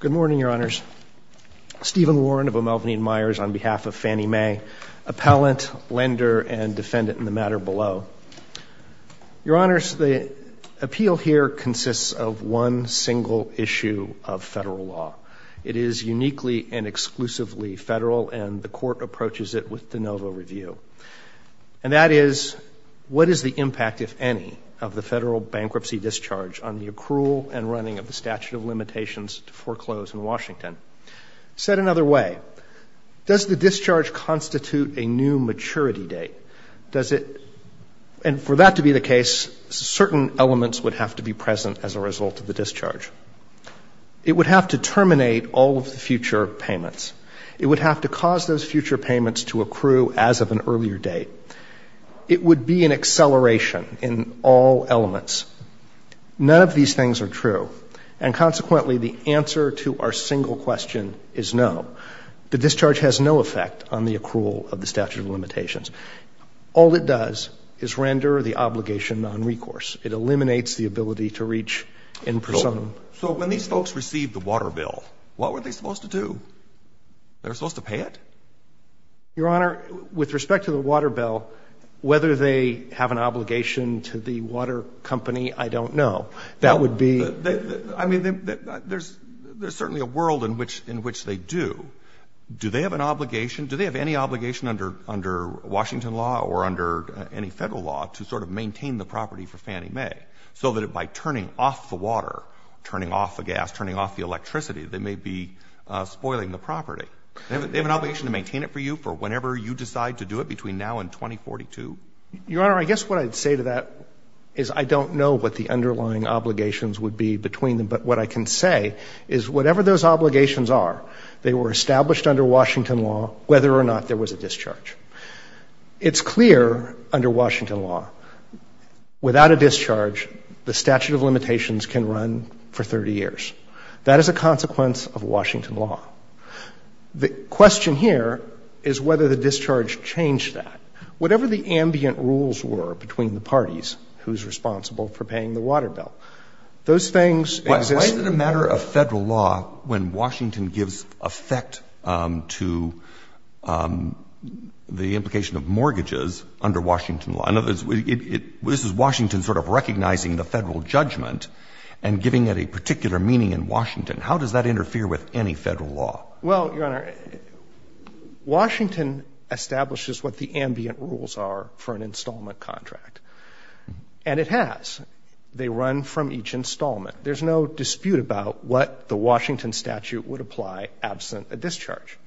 Good morning, Your Honors. Stephen Warren of O'Melveny & Myers on behalf of Fannie Mae, appellant, lender, and defendant in the matter below. Your Honors, the appeal here consists of one single issue of federal law. It is uniquely and exclusively federal, and the court approaches it with de novo review. And that is, what is the impact, if any, of the federal bankruptcy discharge on the accrual and running of the statute of limitations to foreclose in Washington? Said another way, does the discharge constitute a new maturity date? Does it, and for that to be the case, certain elements would have to be present as a result of the discharge. It would have to terminate all of the future payments. It would have to cause those future None of these things are true, and consequently the answer to our single question is no. The discharge has no effect on the accrual of the statute of limitations. All it does is render the obligation nonrecourse. It eliminates the ability to reach in personum. So when these folks receive the water bill, what were they supposed to do? They were supposed to pay it? Your Honor, with respect to the water bill, whether they have an obligation to the water company, I don't know. That would be I mean, there's certainly a world in which they do. Do they have an obligation, do they have any obligation under Washington law or under any federal law to sort of maintain the property for Fannie Mae, so that by turning off the water, turning off the gas, turning off the electricity, they may be spoiling the property? Do they have an obligation to maintain it for you for whenever you decide to do it, between now and 2042? Your Honor, I guess what I'd say to that is I don't know what the underlying obligations would be between them, but what I can say is whatever those obligations are, they were established under Washington law, whether or not there was a discharge. It's clear under Washington law, without a discharge, the statute of limitations can run for 30 years. That is a consequence of Washington law. The question here is whether the discharge changed that. Whatever the ambient rules were between the parties, who's responsible for paying the water bill, those things exist. Why is it a matter of federal law when Washington gives effect to the implication of mortgages under Washington law? In other words, this is Washington sort of recognizing the federal judgment and giving it a particular meaning in Washington. How does that interfere with any federal law? Well, Your Honor, Washington establishes what the ambient rules are for an installment contract, and it has. They run from each installment. There's no dispute about what the Washington statute would apply absent a discharge.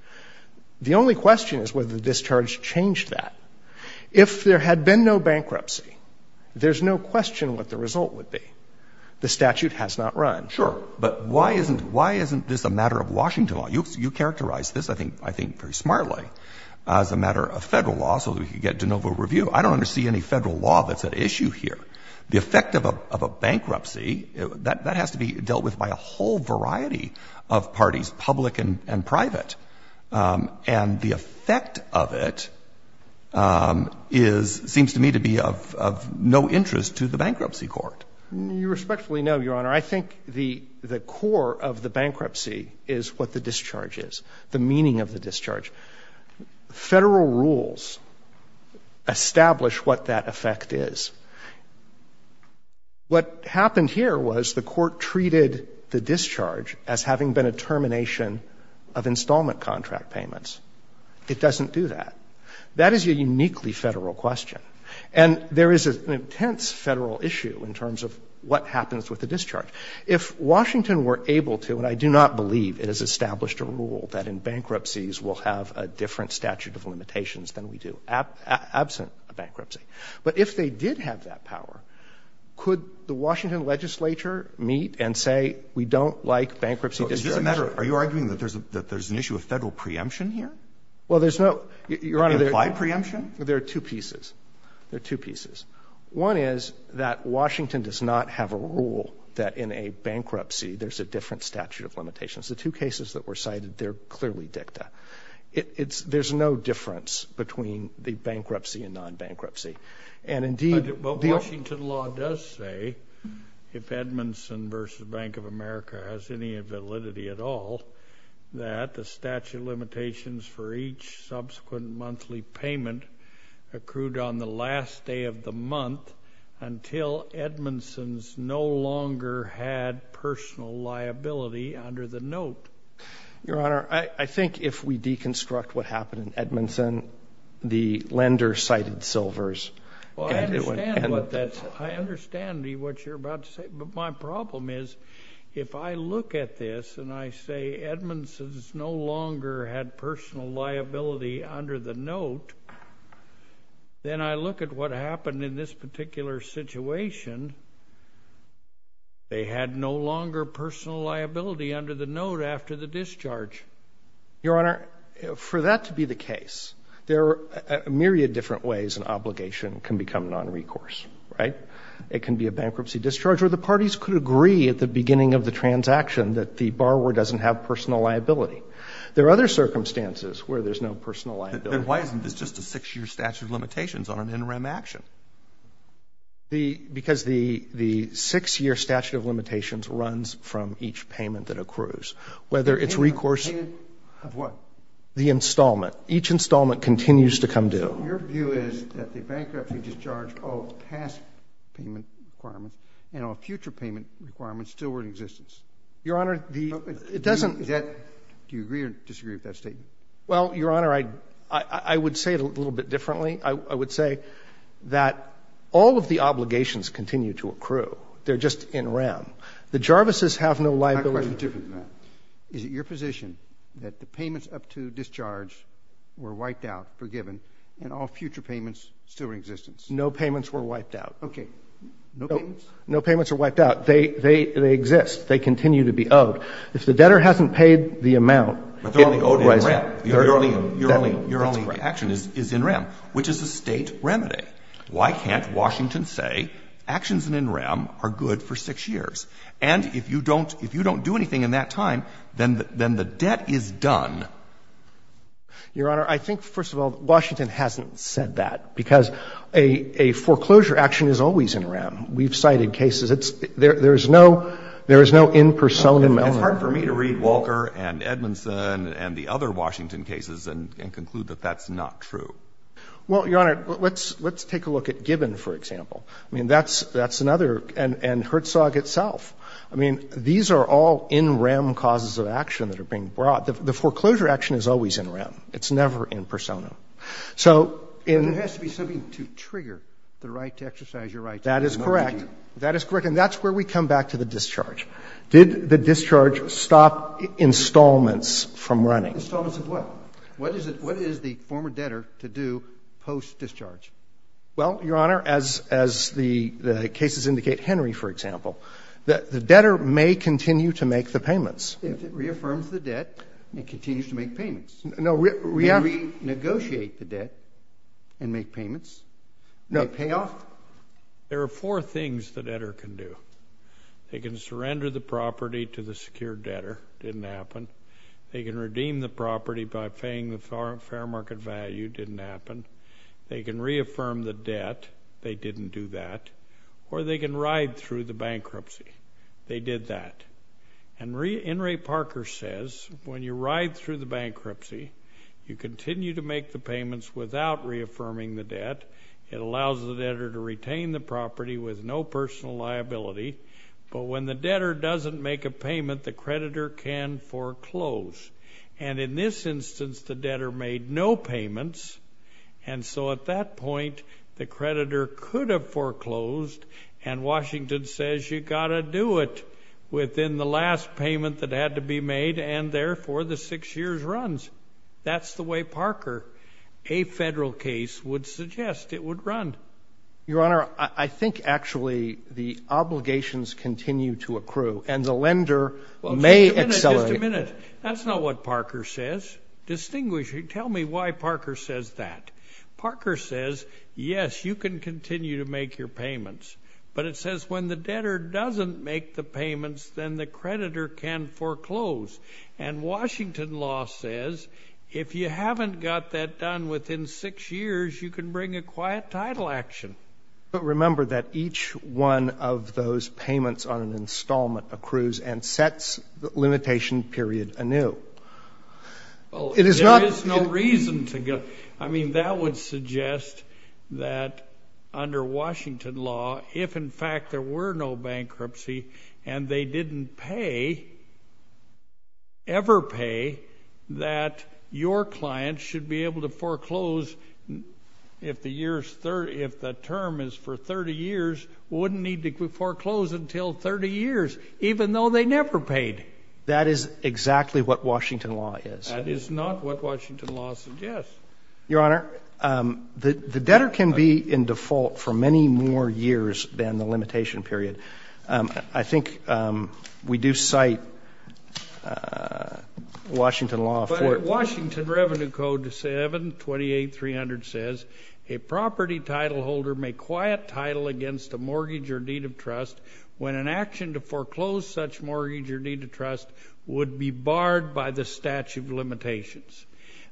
The only question is whether the discharge changed that. If there had been no bankruptcy, there's no question what the result would be. The statute has not run. Sure. But why isn't this a matter of Washington law? You characterized this, I think, very smartly, as a matter of federal law so that we could get de novo review. I don't understand any federal law that's at issue here. The effect of a bankruptcy, that has to be dealt with by a whole variety of parties, public and private. And the effect of it seems to me to be of no interest to the Bankruptcy Court. You respectfully know, Your Honor, I think the core of the bankruptcy is what the discharge is, the meaning of the discharge. Federal rules establish what that effect is. What happened here was the Court treated the discharge as having been a termination of installment contract payments. It doesn't do that. That is a uniquely Federal question. And there is an intense Federal issue in terms of what happens with the discharge. If Washington were able to, and I do not believe it has established a rule that in bankruptcies we'll have a different statute of limitations than we do absent a bankruptcy, but if they did have that power, could the Washington legislature meet and say, we don't like bankruptcy discharges? So is this a matter of – are you arguing that there's an issue of Federal preemption here? Well, there's no – Your Honor, there are two pieces. There are two pieces. One is that Washington does not have a rule that in a bankruptcy there's a different statute of limitations. The two cases that were cited, they're clearly dicta. There's no difference between the bankruptcy and non-bankruptcy. And indeed – But Washington law does say, if Edmondson v. Bank of America has any validity at all, that the statute of limitations for each subsequent monthly payment accrued on the last day of the month until Edmondson's no longer had personal liability under the note. Your Honor, I think if we deconstruct what happened in Edmondson, the lender cited Silver's – Well, I understand what that's – I understand what you're about to say. But my problem is if I look at this and I say Edmondson's no longer had personal liability under the note, then I look at what happened in this particular situation, they had no longer personal liability under the note after the discharge. Your Honor, for that to be the case, there are a myriad of different ways an obligation can become nonrecourse, right? It can be a bankruptcy discharge, or the parties could agree at the beginning of the transaction that the borrower doesn't have personal liability. There are other circumstances where there's no personal liability. Then why isn't this just a 6-year statute of limitations on an in-rem action? Because the 6-year statute of limitations runs from each payment that accrues. Whether it's recourse – Payment of what? The installment. Each installment continues to come due. So your view is that the bankruptcy discharge of past payment requirements and of future payment requirements still were in existence? Your Honor, the – It doesn't – Do you agree or disagree with that statement? Well, Your Honor, I would say it a little bit differently. I would say that all of the obligations continue to accrue. They're just in-rem. The Jarvis's have no liability. My question is different than that. Is it your position that the payments up to discharge were wiped out, forgiven, and all future payments still are in existence? No payments were wiped out. Okay. No payments? No payments were wiped out. They exist. They continue to be owed. If the debtor hasn't paid the amount, it was – But they're only owed in-rem. Your only action is in-rem, which is a State remedy. Why can't Washington say actions in in-rem are good for 6 years? And if you don't do anything in that time, then the debt is done. Your Honor, I think, first of all, Washington hasn't said that, because a foreclosure action is always in-rem. We've cited cases. It's – there is no – there is no in-persona moment. It's hard for me to read Walker and Edmondson and the other Washington cases and conclude that that's not true. Well, Your Honor, let's take a look at Gibbon, for example. I mean, that's another – and Herzog itself. I mean, these are all in-rem causes of action that are being brought. The foreclosure action is always in-rem. It's never in-persona. So in – But there has to be something to trigger the right to exercise your rights. That is correct. That is correct. And that's where we come back to the discharge. Did the discharge stop installments from running? Installments of what? What is the former debtor to do post-discharge? Well, Your Honor, as the cases indicate – Henry, for example – the debtor may continue to make the payments. If it reaffirms the debt, it continues to make payments. No, we have to – It may renegotiate the debt and make payments. No. It may pay off. There are four things the debtor can do. They can surrender the property to the secured debtor. Didn't happen. They can redeem the property by paying the fair market value. Didn't happen. They can reaffirm the debt. They didn't do that. Or they can ride through the bankruptcy. They did that. And Enri Parker says, when you ride through the bankruptcy, you continue to make the payments without reaffirming the debt. It allows the debtor to retain the property with no personal liability. But when the debtor doesn't make a payment, the creditor can foreclose. And in this instance, the debtor made no payments. And so at that point, the creditor could have foreclosed. And Washington says, you've got to do it within the last payment that had to be made. And therefore, the six years runs. That's the way Parker, a federal case, would suggest it would run. Your Honor, I think actually the obligations continue to accrue. And the lender may – Wait a minute. That's not what Parker says. Distinguish – tell me why Parker says that. Parker says, yes, you can continue to make your payments. But it says when the debtor doesn't make the payments, then the creditor can foreclose. And Washington law says, if you haven't got that done within six years, you can bring a quiet title action. But remember that each one of those payments on an installment accrues and sets the limitation period anew. Well, there is no reason to go – I mean, that would suggest that under Washington law, if in fact there were no bankruptcy and they didn't pay, ever pay, that your client should be able to foreclose if the term is for 30 years, wouldn't need to foreclose until 30 years, even though they never paid. That is exactly what Washington law is. That is not what Washington law suggests. Your Honor, the debtor can be in default for many more years than the limitation period. I think we do cite Washington law for – But Washington Revenue Code 728300 says, a property titleholder may quiet title against a mortgage or deed of trust when an action to foreclose such mortgage or deed of trust would be barred by the statute of limitations.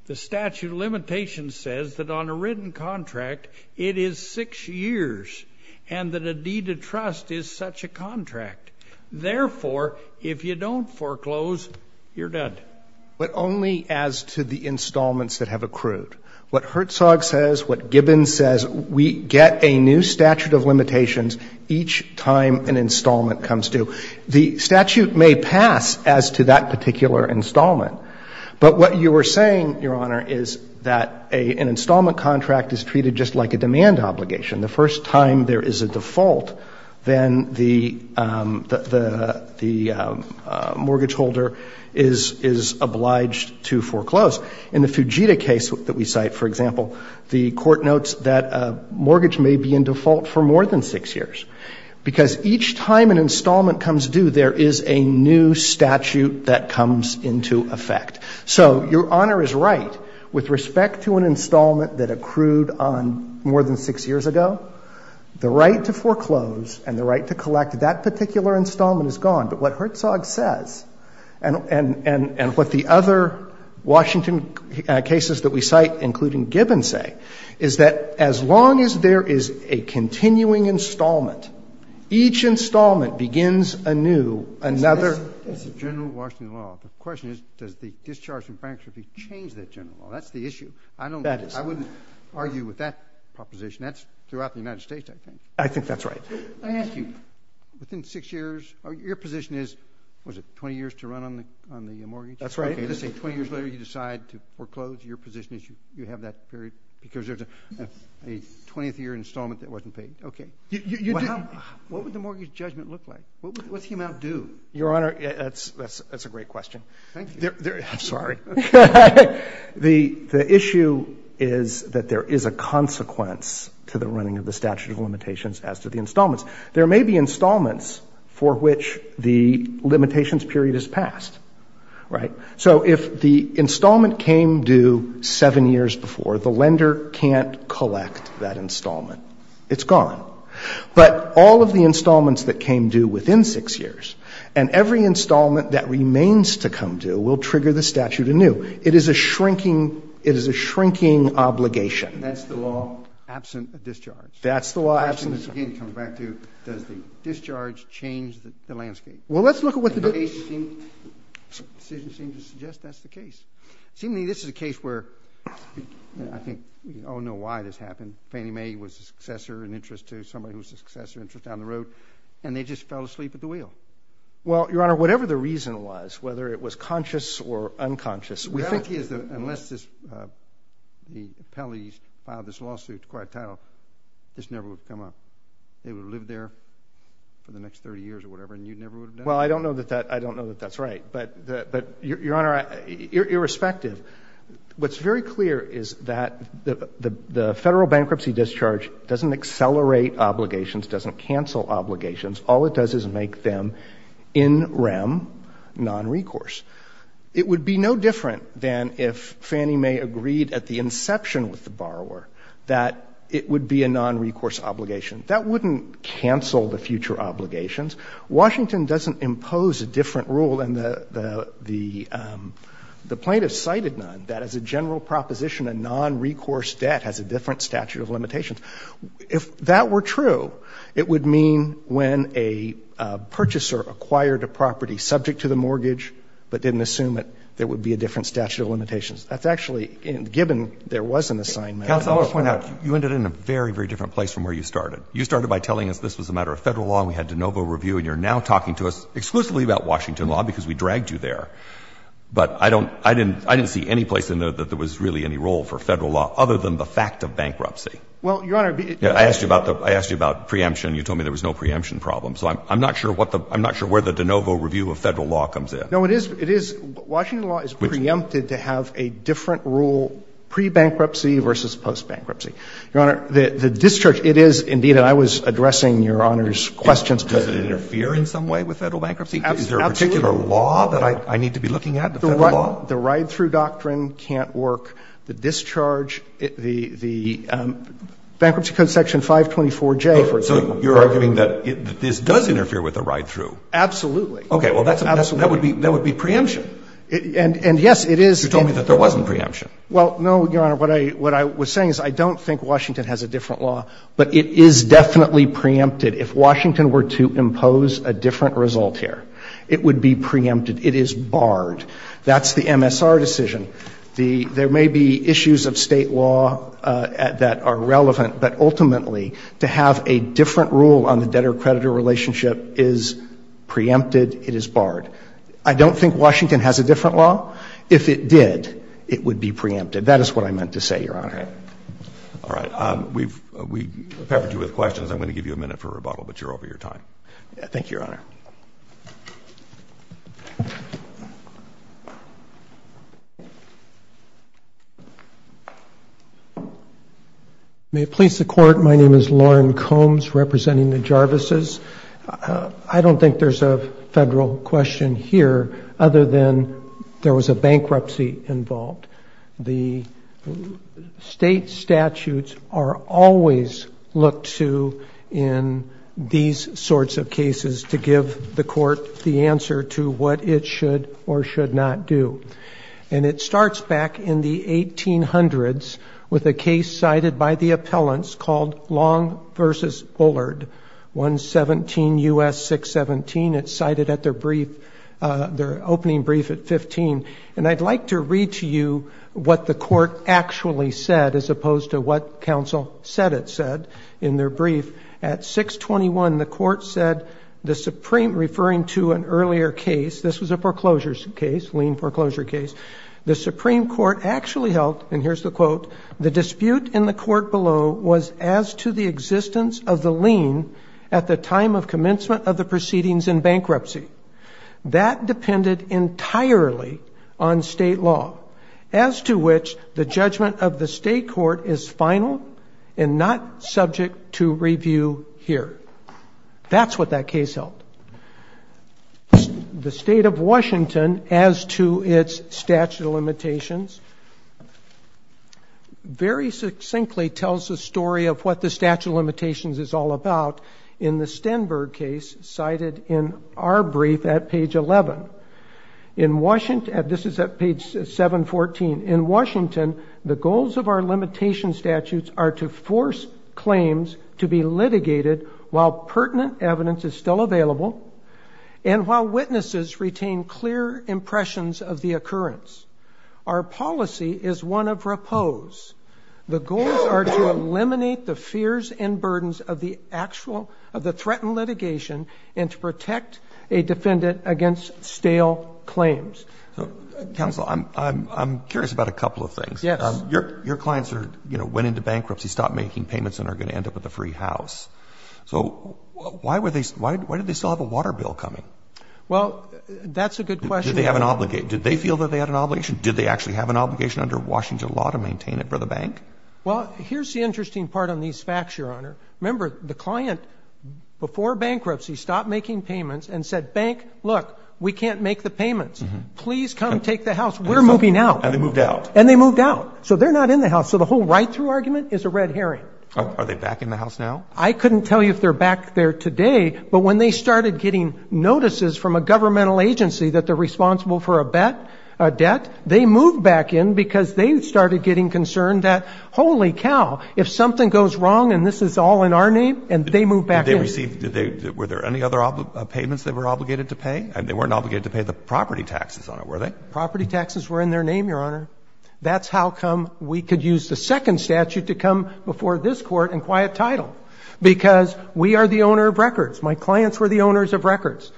The statute of limitations says that on a written contract, it is six years and that a deed of trust is such a contract. Therefore, if you don't foreclose, you're done. But only as to the installments that have accrued. What Herzog says, what Gibbons says, we get a new statute of limitations each time an installment comes due. The statute may pass as to that particular installment, but what you were saying, Your Honor, is that an installment contract is treated just like a demand obligation. The first time there is a default, then the mortgage holder is obliged to foreclose. In the Fujita case that we cite, for example, the court notes that a mortgage may be in default for more than six years. Because each time an installment comes due, there is a new statute that comes into effect. So Your Honor is right, with respect to an installment that accrued on more than six years ago, the right to foreclose and the right to collect that particular installment is gone. But what Herzog says, and what the other Washington cases that we cite, including Gibbons say, is that as long as there is a continuing installment, each installment begins anew another. The question is, does the discharge of bankruptcy change that general law? That's the issue. I don't know. I wouldn't argue with that proposition. That's throughout the United States, I think. I think that's right. I ask you, within six years, your position is, was it 20 years to run on the mortgage? That's right. Let's say 20 years later, you decide to foreclose. Your position is you have that period because there's a 20th year installment that wasn't paid. OK. What would the mortgage judgment look like? What's the amount due? Your Honor, that's a great question. Thank you. I'm sorry. The issue is that there is a consequence to the running of the statute of limitations as to the installments. There may be installments for which the limitations period is passed. So if the installment came due seven years before, the lender can't collect that installment. It's gone. But all of the installments that came due within six years, and every installment that remains to come due, will trigger the statute anew. It is a shrinking obligation. That's the law absent a discharge. That's the law absent a discharge. Again, it comes back to, does the discharge change the landscape? Well, let's look at what the decision seems to suggest. That's the case. Seemingly, this is a case where I think we all know why this happened. Fannie Mae was a successor, an interest to somebody who was a successor, interest down the road. And they just fell asleep at the wheel. Well, Your Honor, whatever the reason was, whether it was conscious or unconscious, we think it's the, unless this, the appellate filed this lawsuit to acquire title, this never would have come up. They would have lived there for the next 30 years or whatever, and you never would have done it? Well, I don't know that that, I don't know that that's right. But, but, Your Honor, irrespective, what's very clear is that the, the, the federal bankruptcy discharge doesn't accelerate obligations, doesn't cancel obligations. All it does is make them in rem, non-recourse. It would be no different than if Fannie Mae agreed at the inception with the borrower, that it would be a non-recourse obligation. That wouldn't cancel the future obligations. Washington doesn't impose a different rule than the, the, the plaintiff cited none, that as a general proposition, a non-recourse debt has a different statute of limitations. If that were true, it would mean when a purchaser acquired a property subject to the mortgage, but didn't assume it, there would be a different statute of limitations. That's actually, given there was an assignment. Counsel, I want to point out, you ended in a very, very different place from where you started. You started by telling us this was a matter of Federal law, and we had de novo review. And you're now talking to us exclusively about Washington law because we dragged you there. But I don't, I didn't, I didn't see any place in there that there was really any role for Federal law, other than the fact of bankruptcy. Well, Your Honor, it, it. I asked you about the, I asked you about preemption. You told me there was no preemption problem. So I'm, I'm not sure what the, I'm not sure where the de novo review of Federal law comes in. No, it is, it is, Washington law is preempted to have a different rule pre-bankruptcy versus post-bankruptcy. Your Honor, the, the discharge, it is indeed, and I was addressing Your Honor's questions. Does it interfere in some way with Federal bankruptcy? Absolutely. Is there a particular law that I, I need to be looking at, the Federal law? The ride-through doctrine can't work. The discharge, the, the Bankruptcy Code section 524J, for example. So you're arguing that this does interfere with the ride-through? Absolutely. Okay. Well, that's a, that's a, that would be, that would be preemption. And, and yes, it is. You told me that there wasn't preemption. Well, no, Your Honor, what I, what I was saying is I don't think Washington has a different law, but it is definitely preempted. If Washington were to impose a different result here, it would be preempted. It is barred. That's the MSR decision. The, there may be issues of State law that are relevant, but ultimately, to have a different rule on the debtor-creditor relationship is preempted. It is barred. I don't think Washington has a different law. If it did, it would be preempted. That is what I meant to say, Your Honor. Okay. All right. We've, we've peppered you with questions. I'm going to give you a minute for rebuttal, but you're over your time. Thank you, Your Honor. May it please the Court, my name is Loren Combs, representing the Jarvis's. I don't think there's a federal question here, other than there was a bankruptcy involved. The State statutes are always looked to in these sorts of cases to give the court the answer to what it should or should not do, and it starts back in the 1800s with a case cited by the appellants called Long v. Bullard, 117 U.S. 617. It's cited at their brief, their opening brief at 15. And I'd like to read to you what the court actually said, as opposed to what counsel said it said in their brief. At 621, the court said the Supreme, referring to an earlier case, this was a foreclosure case, lien foreclosure case, the Supreme Court actually held, and here's the quote, the dispute in the court below was as to the existence of the lien at the time of commencement of the proceedings in bankruptcy. That depended entirely on state law, as to which the judgment of the state court is final and not subject to review here. That's what that case held. The state of Washington, as to its statute of limitations, very succinctly tells the story of what the statute of limitations is all about in the Stenberg case cited in our brief at page 11. In Washington, this is at page 714, in Washington, the goals of our limitation statutes are to force claims to be litigated while pertinent evidence is still available, and while witnesses retain clear impressions of the occurrence. Our policy is one of repose. The goals are to eliminate the fears and burdens of the actual, of the threatened litigation and to protect a defendant against stale claims. So, counsel, I'm curious about a couple of things. Yes. Your clients are, you know, went into bankruptcy, stopped making payments and are going to end up with a free house. So why were they, why did they still have a water bill coming? Well, that's a good question. Did they have an obligation? Did they feel that they had an obligation? Did they actually have an obligation under Washington law to maintain it for the bank? Well, here's the interesting part on these facts, Your Honor. Remember, the client, before bankruptcy, stopped making payments and said, bank, look, we can't make the payments. Please come take the house. We're moving out. And they moved out. And they moved out. So they're not in the house. So the whole right-through argument is a red herring. Are they back in the house now? I couldn't tell you if they're back there today, but when they started getting notices from a governmental agency that they're responsible for a bet, a debt, they moved back in because they started getting concerned that, holy cow, if something goes wrong and this is all in our name, and they moved back in. Did they receive, did they, were there any other payments they were obligated to pay? I mean, they weren't obligated to pay the property taxes on it, were they? Property taxes were in their name, Your Honor. That's how come we could use the second statute to come before this court and acquire a title, because we are the owner of records. My clients were the owners of records.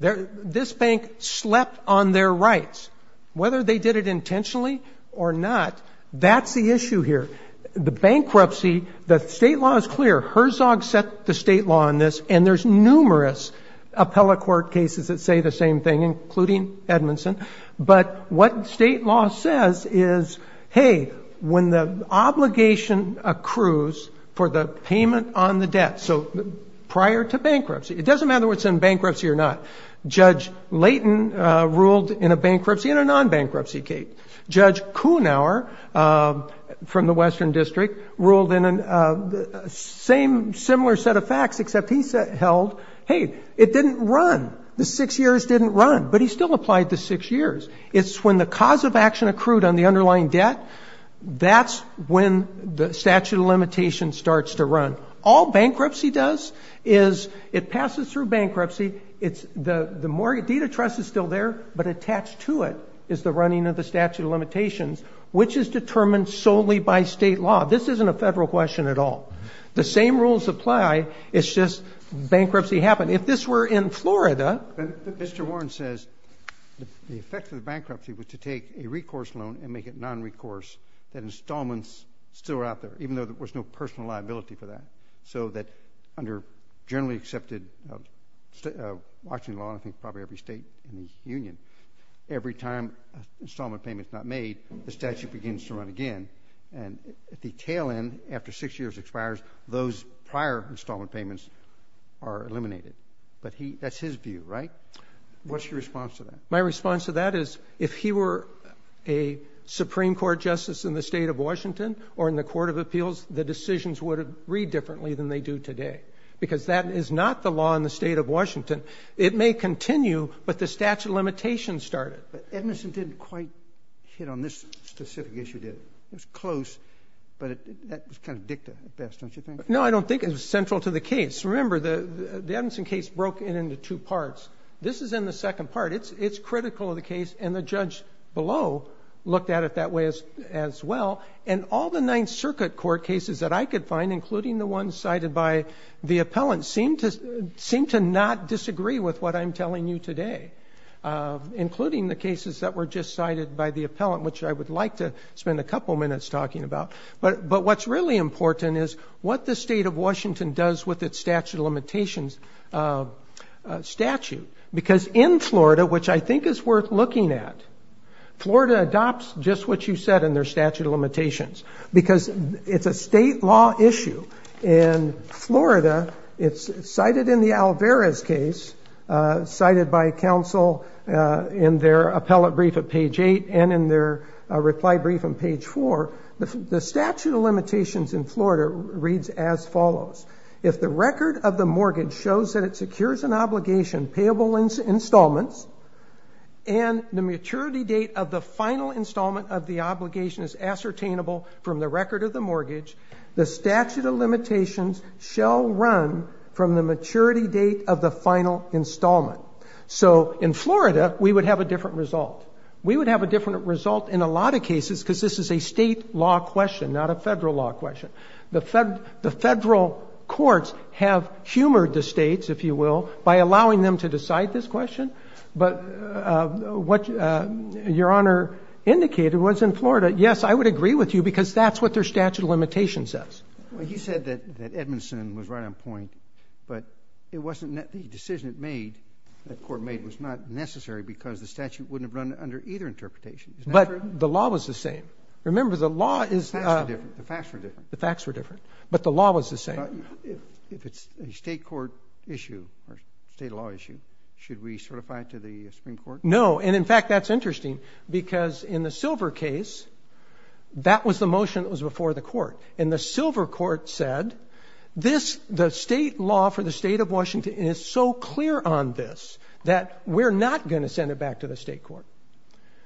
This bank slept on their rights. Whether they did it intentionally or not, that's the issue here. The bankruptcy, the state law is clear. Herzog set the state law on this. And there's numerous appellate court cases that say the same thing, including Edmondson. But what state law says is, hey, when the obligation accrues for the payment on the debt, so prior to bankruptcy, it doesn't matter whether it's in bankruptcy or not. Judge Layton ruled in a bankruptcy and a non-bankruptcy case. Judge Kuhnauer from the Western District ruled in a similar set of facts, except he held, hey, it didn't run. The six years didn't run. But he still applied the six years. It's when the cause of action accrued on the underlying debt, that's when the statute of limitations starts to run. All bankruptcy does is it passes through bankruptcy. The deed of trust is still there, but attached to it is the running of the statute of limitations, which is determined solely by state law. This isn't a federal question at all. The same rules apply. It's just bankruptcy happened. If this were in Florida. Mr. Warren says the effect of the bankruptcy was to take a recourse loan and make it non-recourse, that installments still were out there, even though there was no personal liability for that. So that under generally accepted Washington law, I think probably every state in the union, every time an installment payment's not made, the statute begins to run again. And at the tail end, after six years expires, those prior installment payments are eliminated. But that's his view, right? What's your response to that? My response to that is, if he were a Supreme Court justice in the state of Washington or in the Court of Appeals, the decisions would have read differently than they do today. Because that is not the law in the state of Washington. It may continue, but the statute of limitations started. But Edison didn't quite hit on this specific issue, did he? It was close, but that was kind of dicta at best, don't you think? No, I don't think. It was central to the case. Remember, the Edison case broke it into two parts. This is in the second part. It's critical of the case, and the judge below looked at it that way as well. And all the Ninth Circuit court cases that I could find, including the ones cited by the appellant, seem to not disagree with what I'm telling you today, including the cases that were just cited by the appellant, which I would like to spend a couple minutes talking about. But what's really important is what the state of Washington does with its statute of limitations statute. Because in Florida, which I think is worth looking at, Florida adopts just what you said in their statute of limitations. Because it's a state law issue. In Florida, it's cited in the Alvarez case, cited by counsel in their reply brief on page four, the statute of limitations in Florida reads as follows, if the record of the mortgage shows that it secures an obligation, payable installments, and the maturity date of the final installment of the obligation is ascertainable from the record of the mortgage, the statute of limitations shall run from the maturity date of the final installment. So in Florida, we would have a different result. We would have a different result in a lot of cases, because this is a state law question, not a federal law question. The federal courts have humored the states, if you will, by allowing them to decide this question. But what Your Honor indicated was in Florida, yes, I would agree with you, because that's what their statute of limitations says. Well, you said that Edmondson was right on point. But the decision that court made was not necessary, because the statute wouldn't have run under either interpretation. But the law was the same. Remember, the law is... The facts were different. The facts were different. But the law was the same. If it's a state court issue or state law issue, should we certify it to the Supreme Court? No. And in fact, that's interesting, because in the Silver case, that was the motion that was before the court. And the Silver court said, the state law for the state of Washington is so clear on this, that we're not going to send it back to the state court.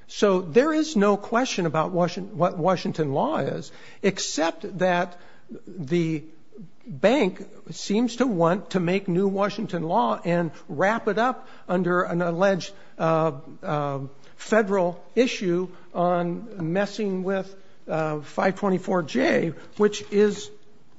So there is no question about what Washington law is, except that the bank seems to want to make new Washington law and wrap it up under an alleged federal issue on messing with 524J, which is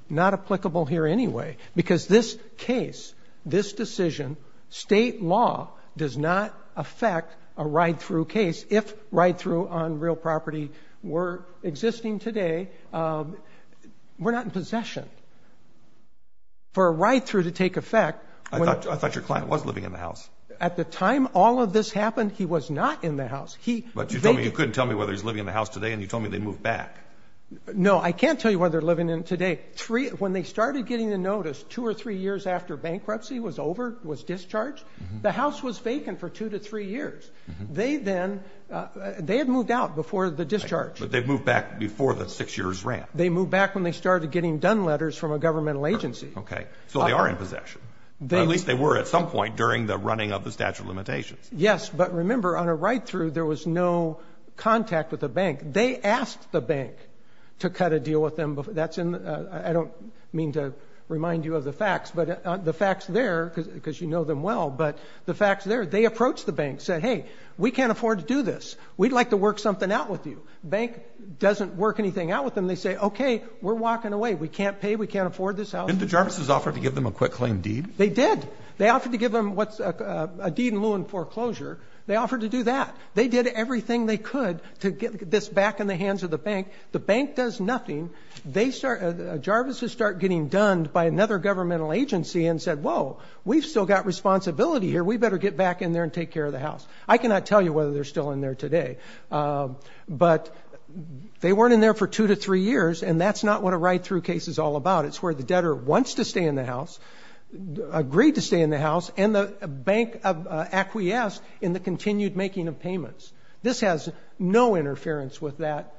not applicable here anyway. Because this case, this decision, state law does not affect a ride-through case, if ride-through on real property were existing today. We're not in possession for a ride-through to take effect. I thought your client was living in the house. At the time all of this happened, he was not in the house. But you couldn't tell me whether he's living in the house today, and you told me they moved back. No, I can't tell you whether they're living in it today. When they started getting the notice two or three years after bankruptcy was over, was discharged, the house was vacant for two to three years. They then, they had moved out before the discharge. But they moved back before the six years ran. They moved back when they started getting done letters from a governmental agency. OK, so they are in possession. Or at least they were at some point during the running of the statute of limitations. Yes, but remember, on a ride-through, there was no contact with the bank. They asked the bank to cut a deal with them. I don't mean to remind you of the facts. But the facts there, because you know them well, but the facts there, they approached the bank, said, hey, we can't afford to do this. We'd like to work something out with you. Bank doesn't work anything out with them. They say, OK, we're walking away. We can't pay. We can't afford this house. Didn't the Jarvis's offer to give them a quick claim deed? They did. They offered to give them a deed in lieu in foreclosure. They offered to do that. They did everything they could to get this back in the hands of the bank. The bank does nothing. Jarvis's start getting done by another governmental agency and said, whoa, we've still got responsibility here. We better get back in there and take care of the house. I cannot tell you whether they're still in there today. But they weren't in there for two to three years. And that's not what a ride-through case is all about. It's where the debtor wants to stay in the house, agreed to stay in the house, and the bank acquiesced in the continued making of payments. This has no interference with that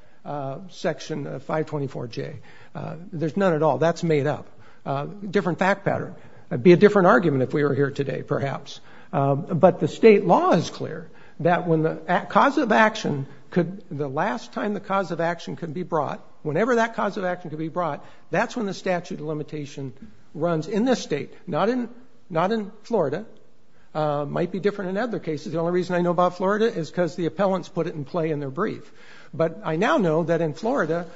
section of 524J. There's none at all. That's made up. Different fact pattern. That'd be a different argument if we were here today, perhaps. But the state law is clear that when the cause of action could, the last time the cause of action could be brought, whenever that cause of action could be brought, that's when the statute of limitation runs in this state, not in Florida. Might be different in other cases. The only reason I know about Florida is because the appellants put it in play in their brief. But I now know that in Florida,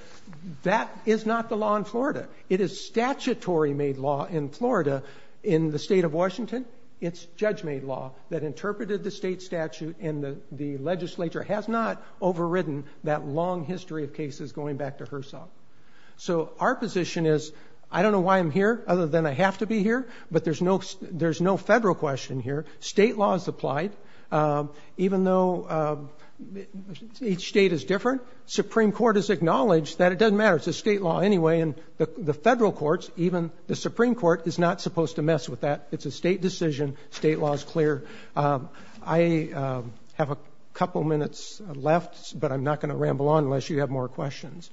that is not the law in Florida. It is statutory-made law in Florida. In the state of Washington, it's judge-made law that interpreted the state statute. And the legislature has not overridden that long history of cases going back to HERSOF. So our position is, I don't know why I'm here, other than I have to be here. But there's no federal question here. State law is applied. Even though each state is different, the Supreme Court has acknowledged that it doesn't matter. It's a state law anyway. And the federal courts, even the Supreme Court, is not supposed to mess with that. It's a state decision. State law is clear. I have a couple minutes left, but I'm not going to ramble on unless you have more questions.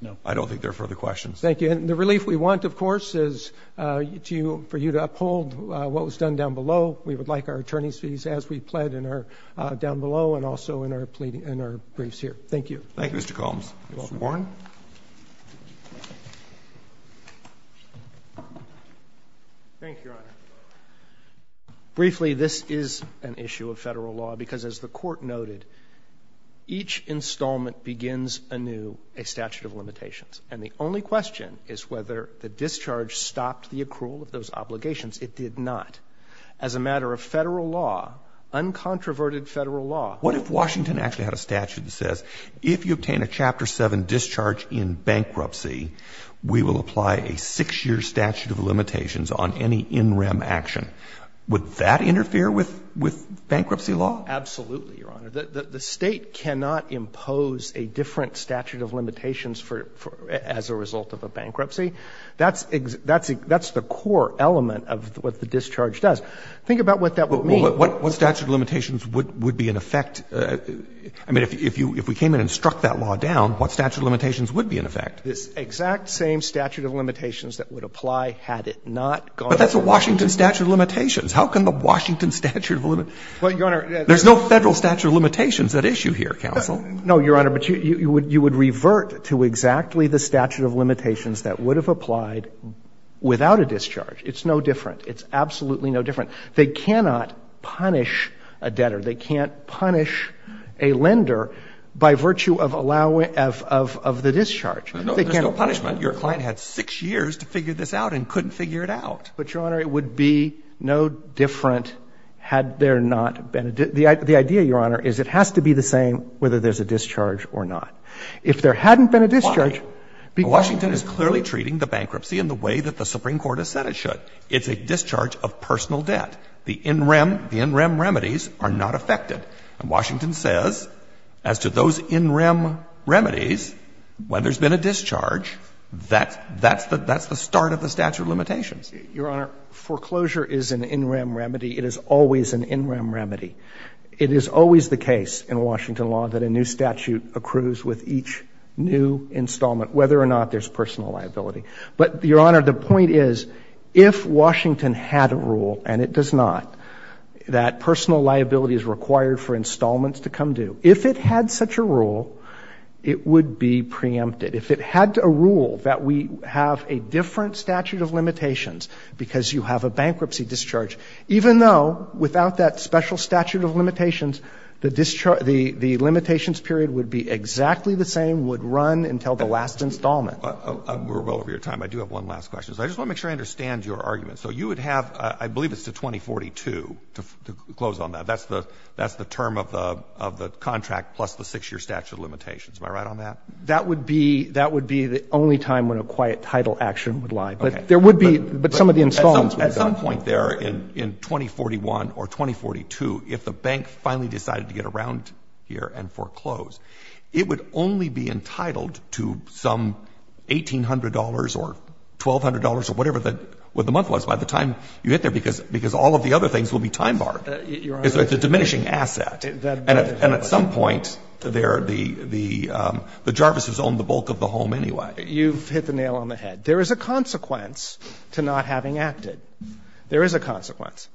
No. I don't think there are further questions. Thank you. And the relief we want, of course, is for you to uphold what was done down below. We would like our attorney's fees as we pled in our down below and also in our briefs here. Thank you. Thank you, Mr. Combs. Mr. Warren. Thank you, Your Honor. Briefly, this is an issue of federal law, because as the Court noted, each installment begins anew a statute of limitations. And the only question is whether the discharge stopped the accrual of those obligations. It did not. As a matter of federal law, uncontroverted federal law. What if Washington actually had a statute that says if you obtain a Chapter VII discharge in bankruptcy, we will apply a 6-year statute of limitations on any in rem action? Would that interfere with bankruptcy law? Absolutely, Your Honor. The State cannot impose a different statute of limitations for as a result of a bankruptcy. That's the core element of what the discharge does. Think about what that would mean. What statute of limitations would be in effect? I mean, if we came in and struck that law down, what statute of limitations would be in effect? This exact same statute of limitations that would apply had it not gone under. But that's a Washington statute of limitations. How can the Washington statute of limitations? Well, Your Honor. There's no federal statute of limitations at issue here, counsel. No, Your Honor. But you would revert to exactly the statute of limitations that would have applied without a discharge. It's no different. It's absolutely no different. They cannot punish a debtor. They can't punish a lender by virtue of the discharge. There's no punishment. Your client had 6 years to figure this out and couldn't figure it out. But, Your Honor, it would be no different had there not been a debt. The idea, Your Honor, is it has to be the same whether there's a discharge or not. If there hadn't been a discharge, because of the discharge. Why? Washington is clearly treating the bankruptcy in the way that the Supreme Court has said it should. It's a discharge of personal debt. The in rem, the in rem remedies are not affected. And Washington says, as to those in rem remedies, when there's been a discharge, that's the start of the statute of limitations. Your Honor, foreclosure is an in rem remedy. It is always an in rem remedy. It is always the case in Washington law that a new statute accrues with each new installment, whether or not there's personal liability. But, Your Honor, the point is, if Washington had a rule, and it does not, that personal liability is required for installments to come due, if it had such a rule, it would be preempted. If it had a rule that we have a different statute of limitations, because you have a bankruptcy discharge, even though, without that special statute of limitations, the discharge, the limitations period would be exactly the same, would run until the last installment. We're well over your time. I do have one last question. I just want to make sure I understand your argument. So you would have, I believe it's to 2042, to close on that. That's the term of the contract plus the 6-year statute of limitations. Am I right on that? That would be the only time when a quiet, tidal action would lie. But there would be, but some of the installments would be gone. At some point there in 2041 or 2042, if the bank finally decided to get around here and foreclose, it would only be entitled to some $1,800 or $1,200 or whatever the month was by the time you get there, because all of the other things will be time barred. It's a diminishing asset. And at some point there, the Jarvis has owned the bulk of the home anyway. You've hit the nail on the head. There is a consequence to not having acted. There is a consequence.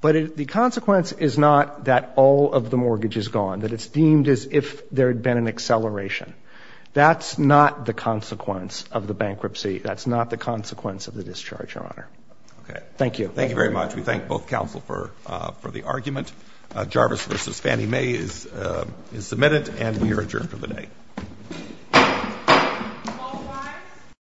But the consequence is not that all of the mortgage is gone, that it's deemed as if there had been an acceleration. That's not the consequence of the bankruptcy. That's not the consequence of the discharge, Your Honor. Thank you. Thank you very much. We thank both counsel for the argument. Jarvis v. Fannie Mae is submitted, and we are adjourned for the day.